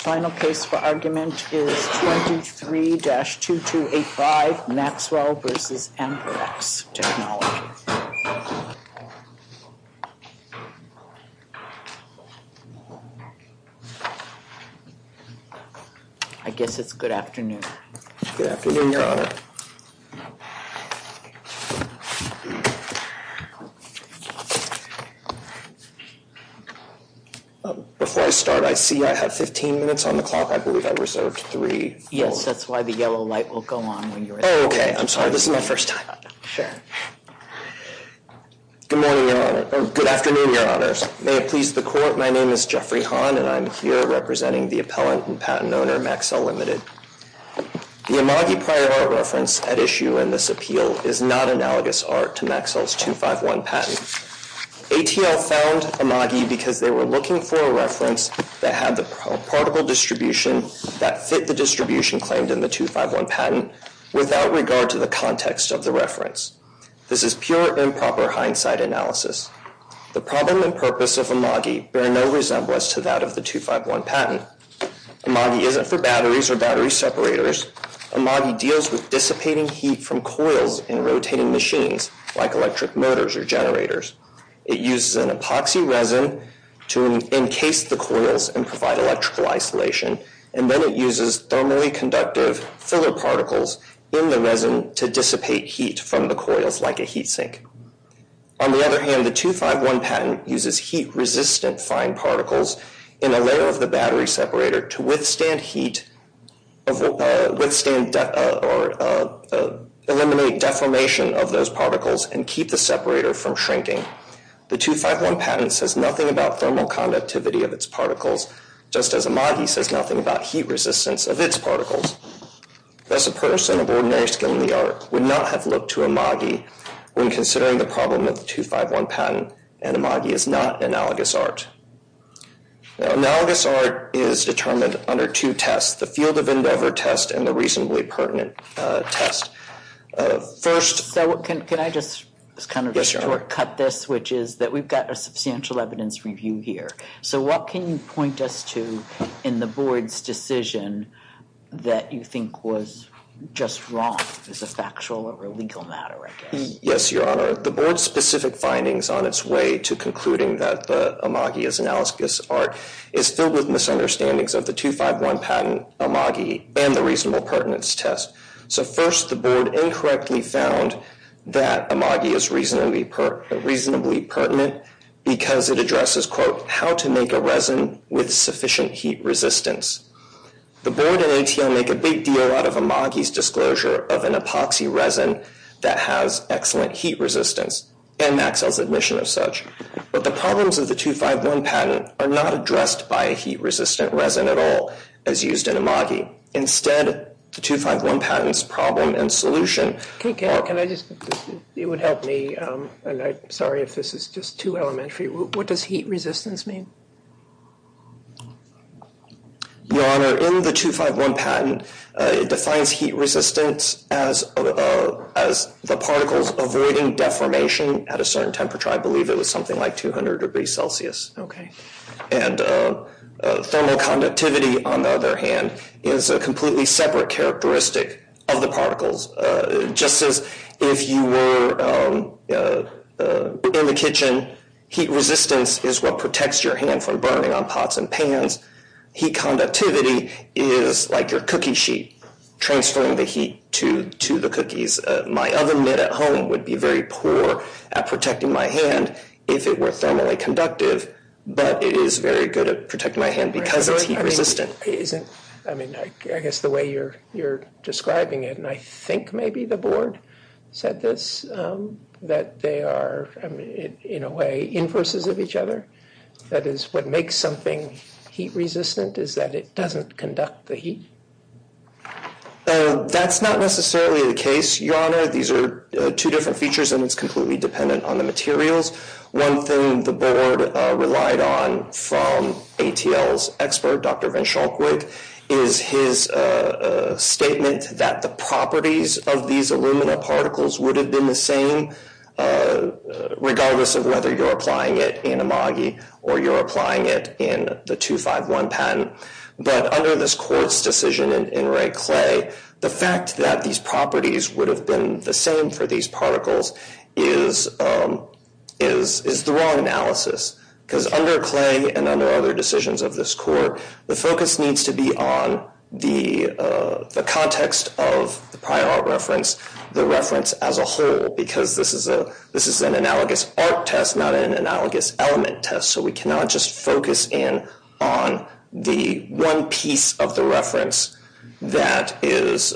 Final case for argument is 23-2285, Maxwell v. Amperex Technology. I guess it's good afternoon. Good afternoon, Your Honor. Before I start, I see I have 15 minutes on the clock. I believe I reserved three. Yes, that's why the yellow light will go on. Oh, okay. I'm sorry. This is my first time. Sure. Good morning, Your Honor. Good afternoon, Your Honor. May it please the Court, my name is Jeffrey Hahn, and I'm here representing the appellant and patent owner, Maxell, Ltd. The Imagi prior art reference at issue in this appeal is not analogous art to Maxwell's 251 patent. ATL found Imagi because they were looking for a reference that had the particle distribution that fit the distribution claimed in the 251 patent without regard to the context of the reference. This is pure improper hindsight analysis. The problem and purpose of Imagi bear no resemblance to that of the 251 patent. Imagi isn't for batteries or battery separators. Imagi deals with dissipating heat from coils in rotating machines like electric motors or generators. It uses an epoxy resin to encase the coils and provide electrical isolation, and then it uses thermally conductive filler particles in the resin to dissipate heat from the coils like a heat sink. On the other hand, the 251 patent uses heat-resistant fine particles in a layer of the battery separator to withstand heat or eliminate deformation of those particles and keep the separator from shrinking. The 251 patent says nothing about thermal conductivity of its particles, just as Imagi says nothing about heat resistance of its particles. Thus, a person of ordinary skill in the art would not have looked to Imagi when considering the problem of the 251 patent, and Imagi is not analogous art. Analogous art is determined under two tests, the Field of Endeavor test and the Reasonably Pertinent test. First... So can I just kind of shortcut this, which is that we've got a substantial evidence review here. So what can you point us to in the board's decision that you think was just wrong, as a factual or a legal matter, I guess? Yes, Your Honor. The board's specific findings on its way to concluding that the Imagi is analogous art is filled with misunderstandings of the 251 patent, Imagi, and the Reasonable Pertinence test. So first, the board incorrectly found that Imagi is reasonably pertinent because it addresses, quote, how to make a resin with sufficient heat resistance. The board and ATL make a big deal out of Imagi's disclosure of an epoxy resin that has excellent heat resistance, and Maxell's admission of such. But the problems of the 251 patent are not addressed by a heat-resistant resin at all, as used in Imagi. Instead, the 251 patent's problem and solution... Can I just, it would help me, and I'm sorry if this is just too elementary. What does heat resistance mean? Your Honor, in the 251 patent, it defines heat resistance as the particles avoiding deformation at a certain temperature. I believe it was something like 200 degrees Celsius. And thermal conductivity, on the other hand, is a completely separate characteristic of the particles. Just as if you were in the kitchen, heat resistance is what protects your hand from burning on pots and pans, heat conductivity is like your cookie sheet, transferring the heat to the cookies. My oven mitt at home would be very poor at protecting my hand if it were thermally conductive, but it is very good at protecting my hand because it's heat-resistant. I mean, I guess the way you're describing it, and I think maybe the Board said this, that they are, in a way, inverses of each other. That is, what makes something heat-resistant is that it doesn't conduct the heat. That's not necessarily the case, Your Honor. These are two different features, and it's completely dependent on the materials. One thing the Board relied on from ATL's expert, Dr. Van Schalkwijk, is his statement that the properties of these alumina particles would have been the same, regardless of whether you're applying it in Imagi or you're applying it in the 251 patent. But under this Court's decision in Rayclay, the fact that these properties would have been the same for these particles is the wrong analysis because under Clay and under other decisions of this Court, the focus needs to be on the context of the prior art reference, the reference as a whole, because this is an analogous art test, not an analogous element test, so we cannot just focus in on the one piece of the reference that is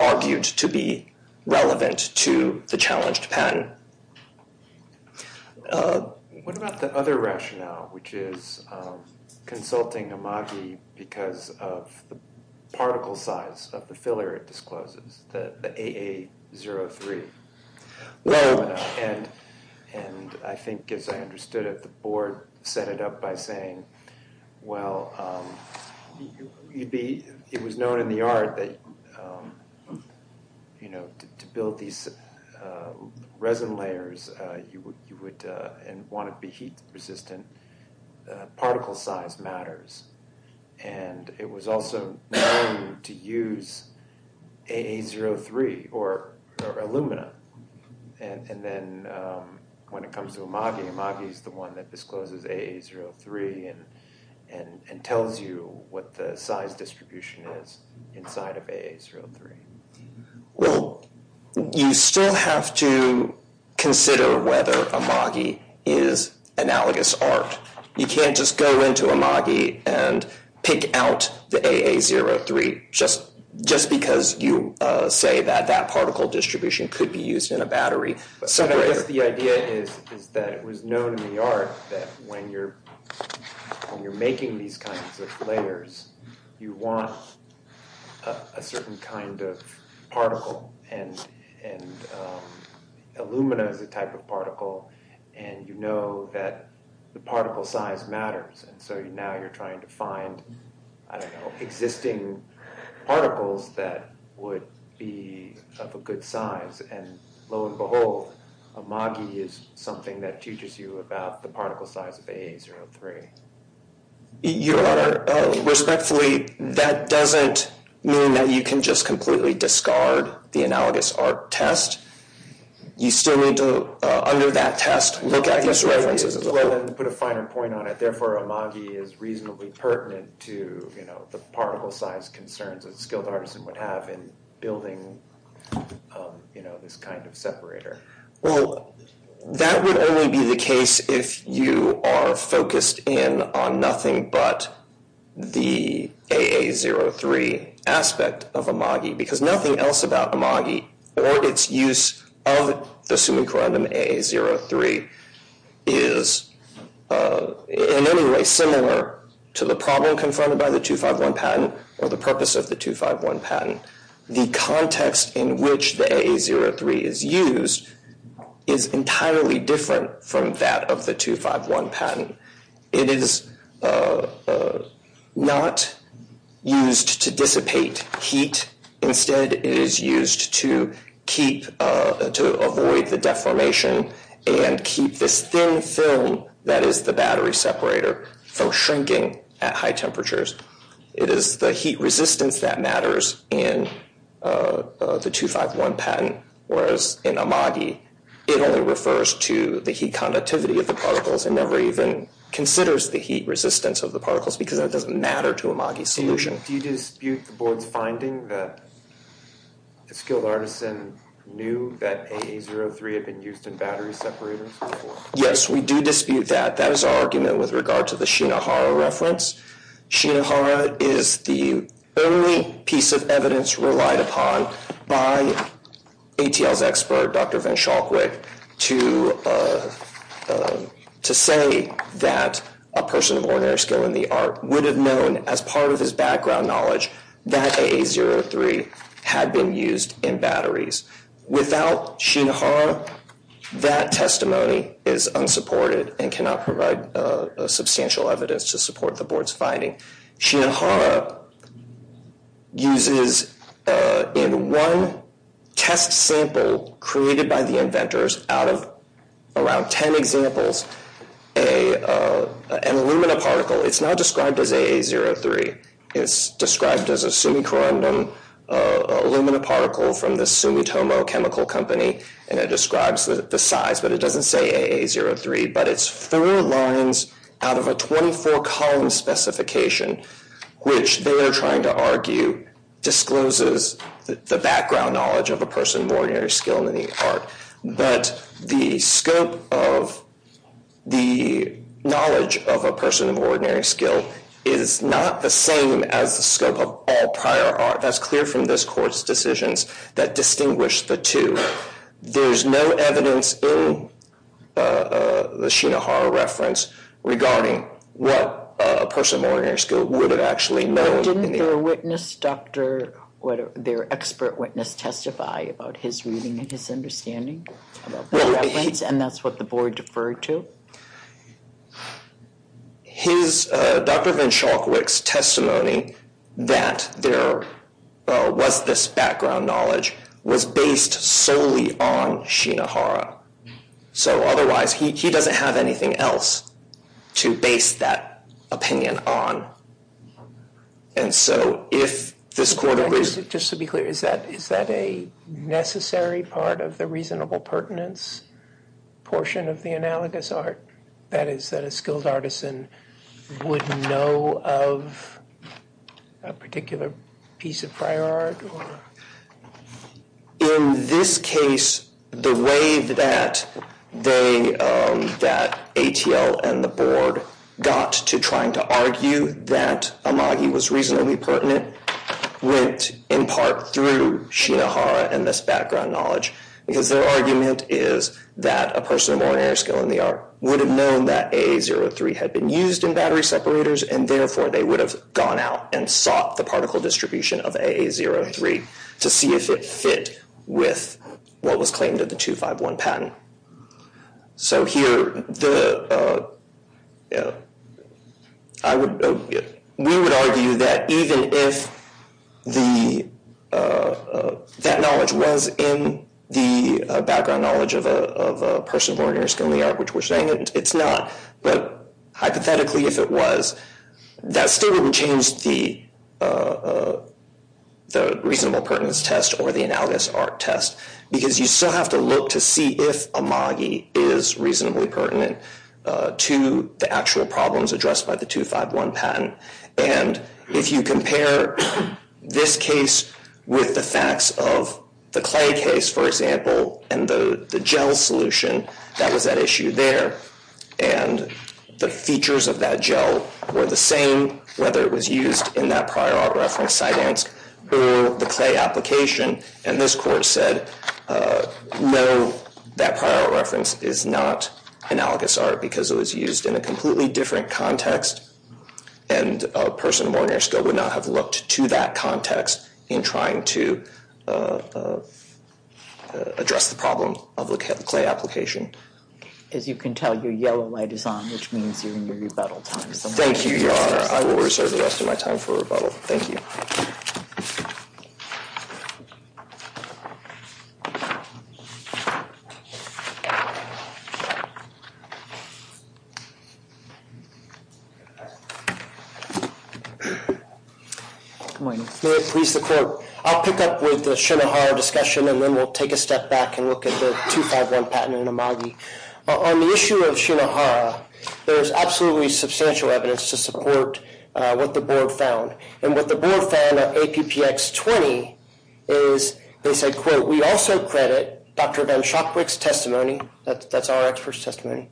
argued to be relevant to the challenged patent. What about the other rationale, which is consulting Imagi because of the particle size of the filler it discloses, the AA03 alumina, and I think, as I understood it, the Board set it up by saying, well, it was known in the art that, you know, to build these resin layers, you would want it to be heat-resistant, particle size matters, and it was also known to use AA03 or alumina, and then when it comes to Imagi, Imagi is the one that discloses AA03 and tells you what the size distribution is inside of AA03. Well, you still have to consider whether Imagi is analogous art. You can't just go into Imagi and pick out the AA03 just because you say that particle distribution could be used in a battery. So I guess the idea is that it was known in the art that when you're making these kinds of layers, you want a certain kind of particle, and alumina is a type of particle, and you know that the particle size matters, and so now you're trying to find, I don't know, existing particles that would be of a good size, and lo and behold, Imagi is something that teaches you about the particle size of AA03. Your Honor, respectfully, that doesn't mean that you can just completely discard the analogous art test. You still need to, under that test, look at these references as well. Well, then to put a finer point on it, therefore, Imagi is reasonably pertinent to, you know, the particle size concerns that a skilled artisan would have in building, you know, this kind of separator. Well, that would only be the case if you are focused in on nothing but the AA03 aspect of Imagi, because nothing else about Imagi or its use of the summa corundum AA03 is in any way similar to the problem confirmed by the 251 patent or the purpose of the 251 patent. The context in which the AA03 is used is entirely different from that of the 251 patent. It is not used to dissipate heat. Instead, it is used to avoid the deformation and keep this thin film that is the battery separator from shrinking at high temperatures. It is the heat resistance that matters in the 251 patent, whereas in Imagi, it only refers to the heat conductivity of the particles and never even considers the heat resistance of the particles because that doesn't matter to Imagi's solution. Do you dispute the board's finding that a skilled artisan knew that AA03 had been used in battery separators? Yes, we do dispute that. That is our argument with regard to the Shinohara reference. Shinohara is the only piece of evidence relied upon by ATL's expert, Dr. Vin Shalkwick, to say that a person of ordinary skill in the art would have known as part of his background knowledge that AA03 had been used in batteries. Without Shinohara, that testimony is unsupported and cannot provide substantial evidence to support the board's finding. Shinohara uses in one test sample created by the inventors out of around 10 examples an alumina particle. It is not described as AA03. It is described as a sumicorundum alumina particle from the Sumitomo Chemical Company. It describes the size, but it doesn't say AA03. It is four lines out of a 24-column specification, which they are trying to argue discloses the background knowledge of a person of ordinary skill in the art. But the scope of the knowledge of a person of ordinary skill is not the same as the scope of all prior art. That is clear from this court's decisions that distinguish the two. There is no evidence in the Shinohara reference regarding what a person of ordinary skill would have actually known. Didn't their witness, their expert witness testify about his reading and his understanding of the reference, and that's what the board deferred to? Dr. Vinshalkwik's testimony that there was this background knowledge was based solely on Shinohara. So otherwise, he doesn't have anything else to base that opinion on. And so if this court agrees... Just to be clear, is that a necessary part of the reasonable pertinence portion of the analogous art? That is, that a skilled artisan would know of a particular piece of prior art? In this case, the way that ATL and the board got to trying to argue that Amagi was reasonably pertinent went in part through Shinohara and this background knowledge, because their argument is that a person of ordinary skill in the art would have known that AA03 had been used in battery separators, and therefore they would have gone out and sought the particle distribution of AA03 to see if it fit with what was claimed in the 251 patent. So here, we would argue that even if that knowledge was in the background knowledge of a person of ordinary skill in the art, which we're saying it's not, but hypothetically if it was, that still wouldn't change the reasonable pertinence test or the analogous art test, because you still have to look to see if Amagi is reasonably pertinent to the actual problems addressed by the 251 patent. And if you compare this case with the facts of the clay case, for example, and the gel solution that was at issue there, and the features of that gel were the same, whether it was used in that prior art reference, Cydansk, or the clay application, and this court said, no, that prior art reference is not analogous art because it was used in a completely different context, and a person of ordinary skill would not have looked to that context in trying to address the problem of the clay application. As you can tell, your yellow light is on, which means you're in your rebuttal time. Thank you, Your Honor. I will reserve the rest of my time for rebuttal. Thank you. Good morning. May it please the court, I'll pick up with the Shinohara discussion, and then we'll take a step back and look at the 251 patent in Amagi. On the issue of Shinohara, there's absolutely substantial evidence to support what the board found, and what the board found of APPX20 is they said, quote, we also credit Dr. Van Schakwyk's testimony, that's our expert's testimony,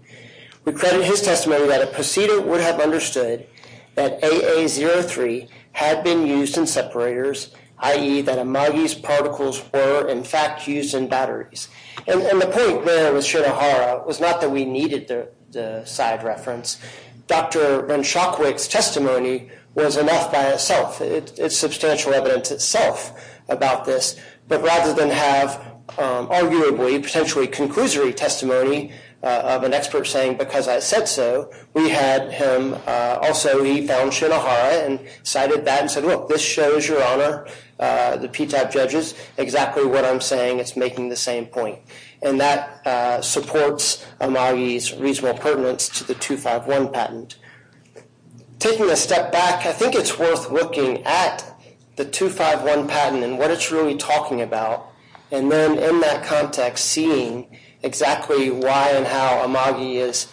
We credit his testimony that a proceeding would have understood that AA03 had been used in separators, i.e. that Amagi's particles were, in fact, used in batteries. And the point there with Shinohara was not that we needed the side reference. Dr. Van Schakwyk's testimony was enough by itself. It's substantial evidence itself about this, but rather than have, arguably, potentially conclusory testimony of an expert saying, because I said so, we had him, also he found Shinohara and cited that and said, look, this shows, Your Honor, the PTAP judges, exactly what I'm saying, it's making the same point. And that supports Amagi's reasonable pertinence to the 251 patent. Taking a step back, I think it's worth looking at the 251 patent and what it's really talking about, and then in that context, seeing exactly why and how Amagi is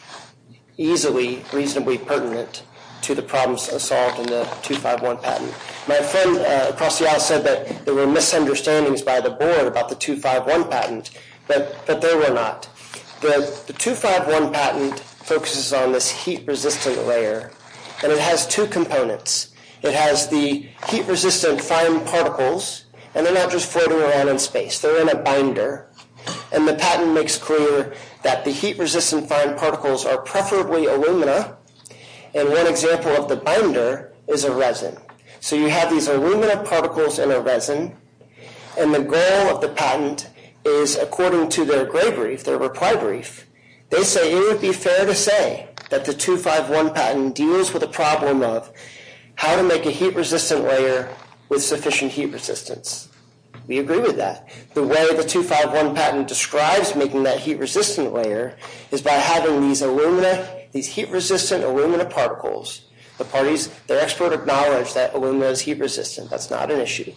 easily reasonably pertinent to the problems solved in the 251 patent. My friend across the aisle said that there were misunderstandings by the board about the 251 patent, but there were not. The 251 patent focuses on this heat-resistant layer, and it has two components. It has the heat-resistant fine particles, and they're not just floating around in space. They're in a binder, and the patent makes clear that the heat-resistant fine particles are preferably alumina, and one example of the binder is a resin. So you have these alumina particles in a resin, and the goal of the patent is, according to their gray brief, their reply brief, they say it would be fair to say that the 251 patent deals with the problem of how to make a heat-resistant layer with sufficient heat resistance. We agree with that. The way the 251 patent describes making that heat-resistant layer is by having these alumina, these heat-resistant alumina particles, their expert acknowledged that alumina is heat-resistant. That's not an issue.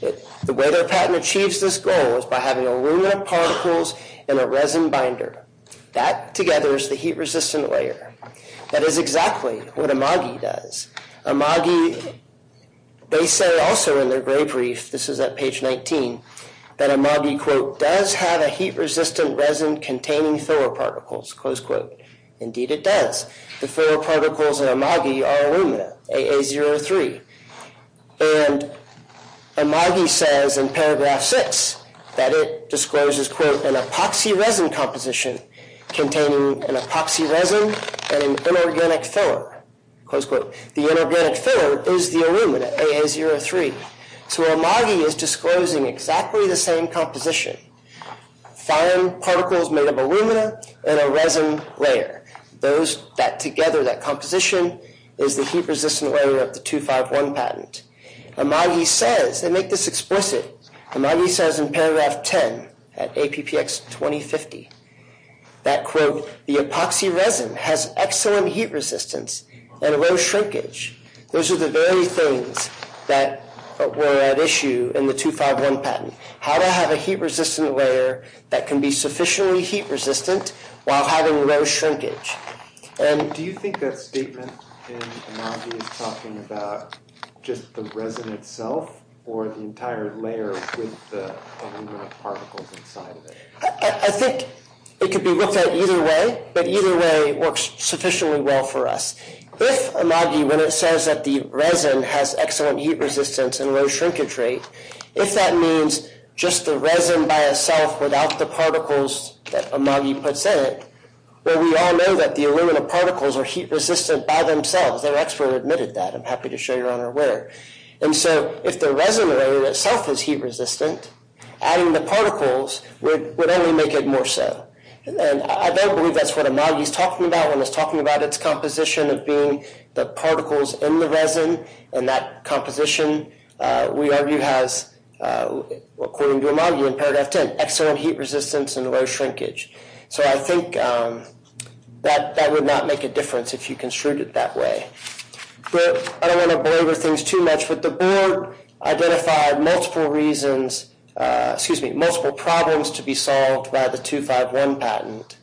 The way their patent achieves this goal is by having alumina particles in a resin binder. That, together, is the heat-resistant layer. That is exactly what Imagi does. Imagi, they say also in their gray brief, this is at page 19, that Imagi, quote, does have a heat-resistant resin containing filler particles, close quote. Indeed, it does. The filler particles in Imagi are alumina, AA03. And Imagi says in paragraph 6 that it discloses, quote, an epoxy resin composition containing an epoxy resin and an inorganic filler, close quote. The inorganic filler is the alumina, AA03. So Imagi is disclosing exactly the same composition. Fine particles made of alumina in a resin layer. Those, that together, that composition is the heat-resistant layer of the 251 patent. Imagi says, they make this explicit, Imagi says in paragraph 10 at APPX 2050, that, quote, the epoxy resin has excellent heat resistance and low shrinkage. Those are the very things that were at issue in the 251 patent. How to have a heat-resistant layer that can be sufficiently heat-resistant while having low shrinkage. Do you think that statement in Imagi is talking about just the resin itself or the entire layer with the alumina particles inside of it? I think it could be looked at either way. But either way, it works sufficiently well for us. If Imagi, when it says that the resin has excellent heat resistance and low shrinkage rate, if that means just the resin by itself without the particles that Imagi puts in it, well, we all know that the alumina particles are heat-resistant by themselves. Their expert admitted that. I'm happy to show your honor where. And so if the resin layer itself is heat-resistant, adding the particles would only make it more so. I don't believe that's what Imagi is talking about when it's talking about its composition of being the particles in the resin. And that composition, we argue, has, according to Imagi in paragraph 10, excellent heat resistance and low shrinkage. So I think that would not make a difference if you construed it that way. But I don't want to belabor things too much. But the board identified multiple reasons, excuse me, multiple problems to be solved by the 251 patent.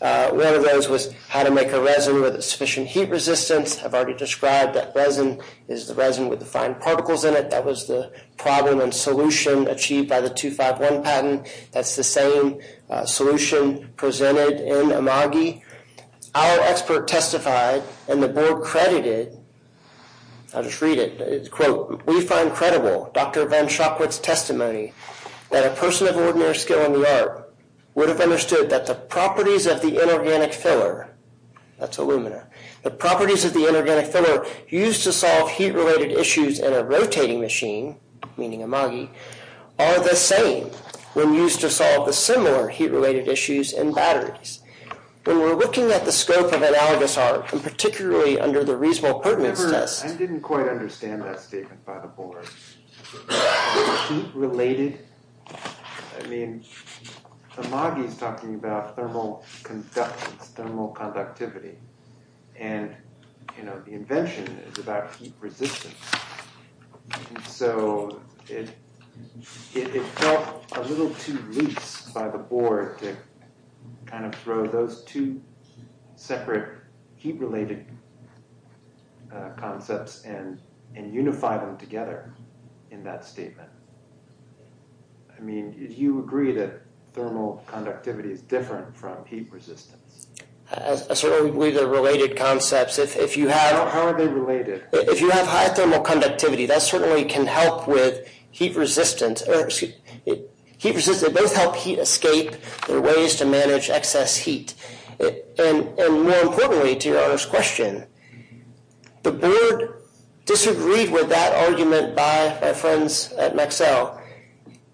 One of those was how to make a resin with sufficient heat resistance. I've already described that resin is the resin with the fine particles in it. That was the problem and solution achieved by the 251 patent. That's the same solution presented in Imagi. Our expert testified, and the board credited, I'll just read it. Quote, we find credible Dr. Van Schakwit's testimony that a person of ordinary skill in the art would have understood that the properties of the inorganic filler, that's alumina, the properties of the inorganic filler used to solve heat-related issues in a rotating machine, meaning Imagi, are the same when used to solve the similar heat-related issues in batteries. When we're looking at the scope of analogous art, and particularly under the reasonable pertinence test. I didn't quite understand that statement by the board. The heat-related, I mean, Imagi is talking about thermal conductance, thermal conductivity. And, you know, the invention is about heat resistance. So, it felt a little too loose by the board to kind of throw those two separate heat-related concepts and unify them together in that statement. I mean, do you agree that thermal conductivity is different from heat resistance? I certainly believe they're related concepts. If you have... How are they related? If you have high thermal conductivity, that certainly can help with heat resistance. Heat resistance, they both help heat escape. There are ways to manage excess heat. And more importantly, to your earlier question, the board disagreed with that argument by our friends at Mexcel.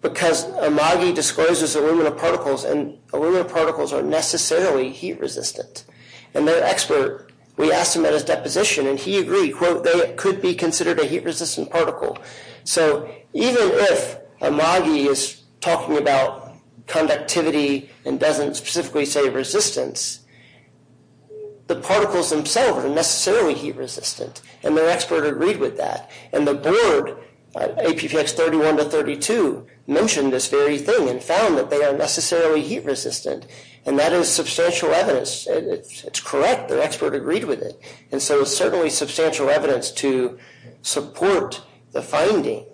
Because Imagi discloses aluminum particles, and aluminum particles are necessarily heat resistant. And their expert, we asked him at his deposition, and he agreed. Quote, they could be considered a heat-resistant particle. So, even if Imagi is talking about conductivity and doesn't specifically say resistance, the particles themselves are necessarily heat resistant. And their expert agreed with that. And the board, APPX 31 to 32, mentioned this very thing and found that they are necessarily heat resistant. And that is substantial evidence. It's correct. Their expert agreed with it. And so, it's certainly substantial evidence to support the finding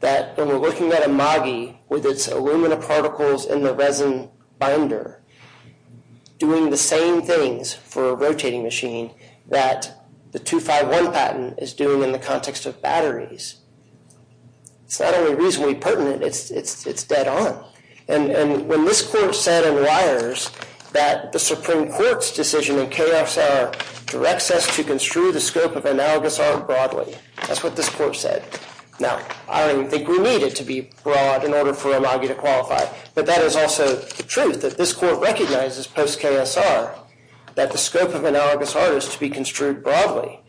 that when we're looking at Imagi with its aluminum particles in the resin binder, doing the same things for a rotating machine that the 251 patent is doing in the context of batteries. It's not only reasonably pertinent, it's dead on. And when this court said in Weyers that the Supreme Court's decision in KSR directs us to construe the scope of analogous art broadly, that's what this court said. Now, I don't even think we need it to be broad in order for Imagi to qualify. But that is also the truth, that this court recognizes post-KSR that the scope of analogous art is to be construed broadly.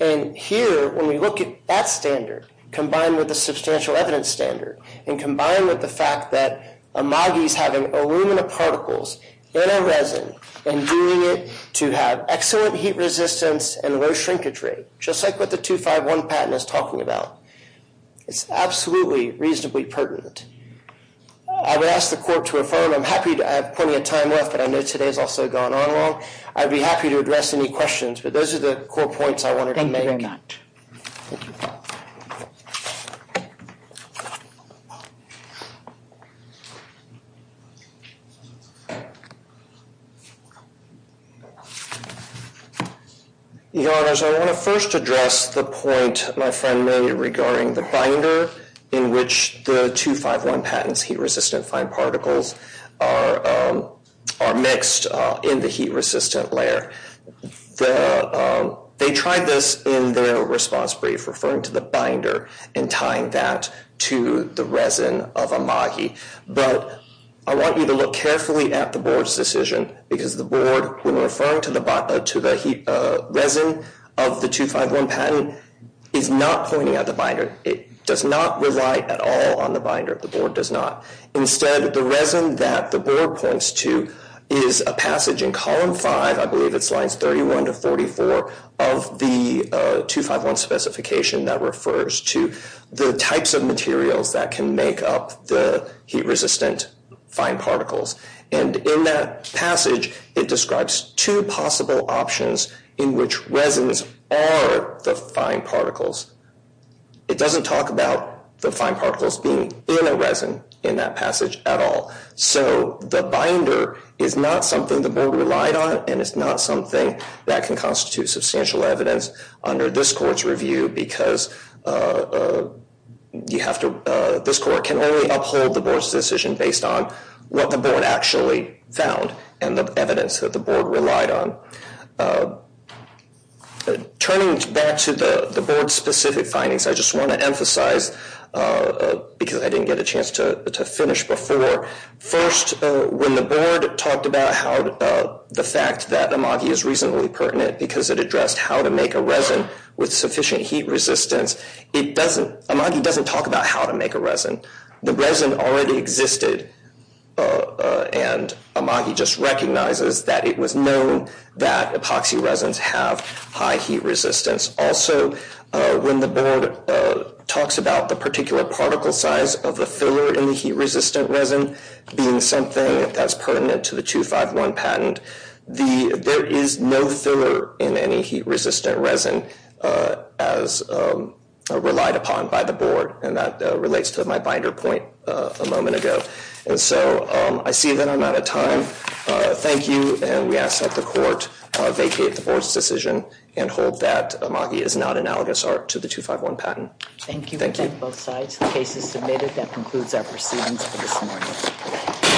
And here, when we look at that standard, combined with the substantial evidence standard, and combined with the fact that Imagi is having aluminum particles in a resin, and doing it to have excellent heat resistance and low shrinkage rate, just like what the 251 patent is talking about, it's absolutely reasonably pertinent. I would ask the court to affirm. I'm happy to have plenty of time left, but I know today has also gone on long. I'd be happy to address any questions, but those are the core points I wanted to make. Thank you very much. Your Honors, I want to first address the point my friend made regarding the binder in which the 251 patent's heat-resistant fine particles are mixed in the heat-resistant layer. They tried this in their response brief, referring to the binder and tying that to the resin of Imagi. But I want you to look carefully at the board's decision, because the board, when referring to the resin of the 251 patent, is not pointing at the binder. It does not rely at all on the binder. The board does not. Instead, the resin that the board points to is a passage in column 5, I believe it's lines 31 to 44, of the 251 specification that refers to the types of materials that can make up the heat-resistant fine particles. In that passage, it describes two possible options in which resins are the fine particles. It doesn't talk about the fine particles being in a resin in that passage at all. So the binder is not something the board relied on, and it's not something that can constitute substantial evidence under this court's review, because this court can only uphold the board's decision based on what the board actually found and the evidence that the board relied on. Turning back to the board's specific findings, I just want to emphasize, because I didn't get a chance to finish before, first, when the board talked about the fact that Imagi is reasonably pertinent because it addressed how to make a resin with sufficient heat resistance, Imagi doesn't talk about how to make a resin. The resin already existed, and Imagi just recognizes that it was known that epoxy resins have high heat resistance. Also, when the board talks about the particular particle size of the filler in the heat-resistant resin being something that's pertinent to the 251 patent, there is no filler in any heat-resistant resin as relied upon by the board, and that relates to my binder point a moment ago. And so I see that I'm out of time. Thank you, and we ask that the court vacate the board's decision and hold that Imagi is not analogous art to the 251 patent. Thank you. Thank you, both sides. The case is submitted. That concludes our proceedings for this morning.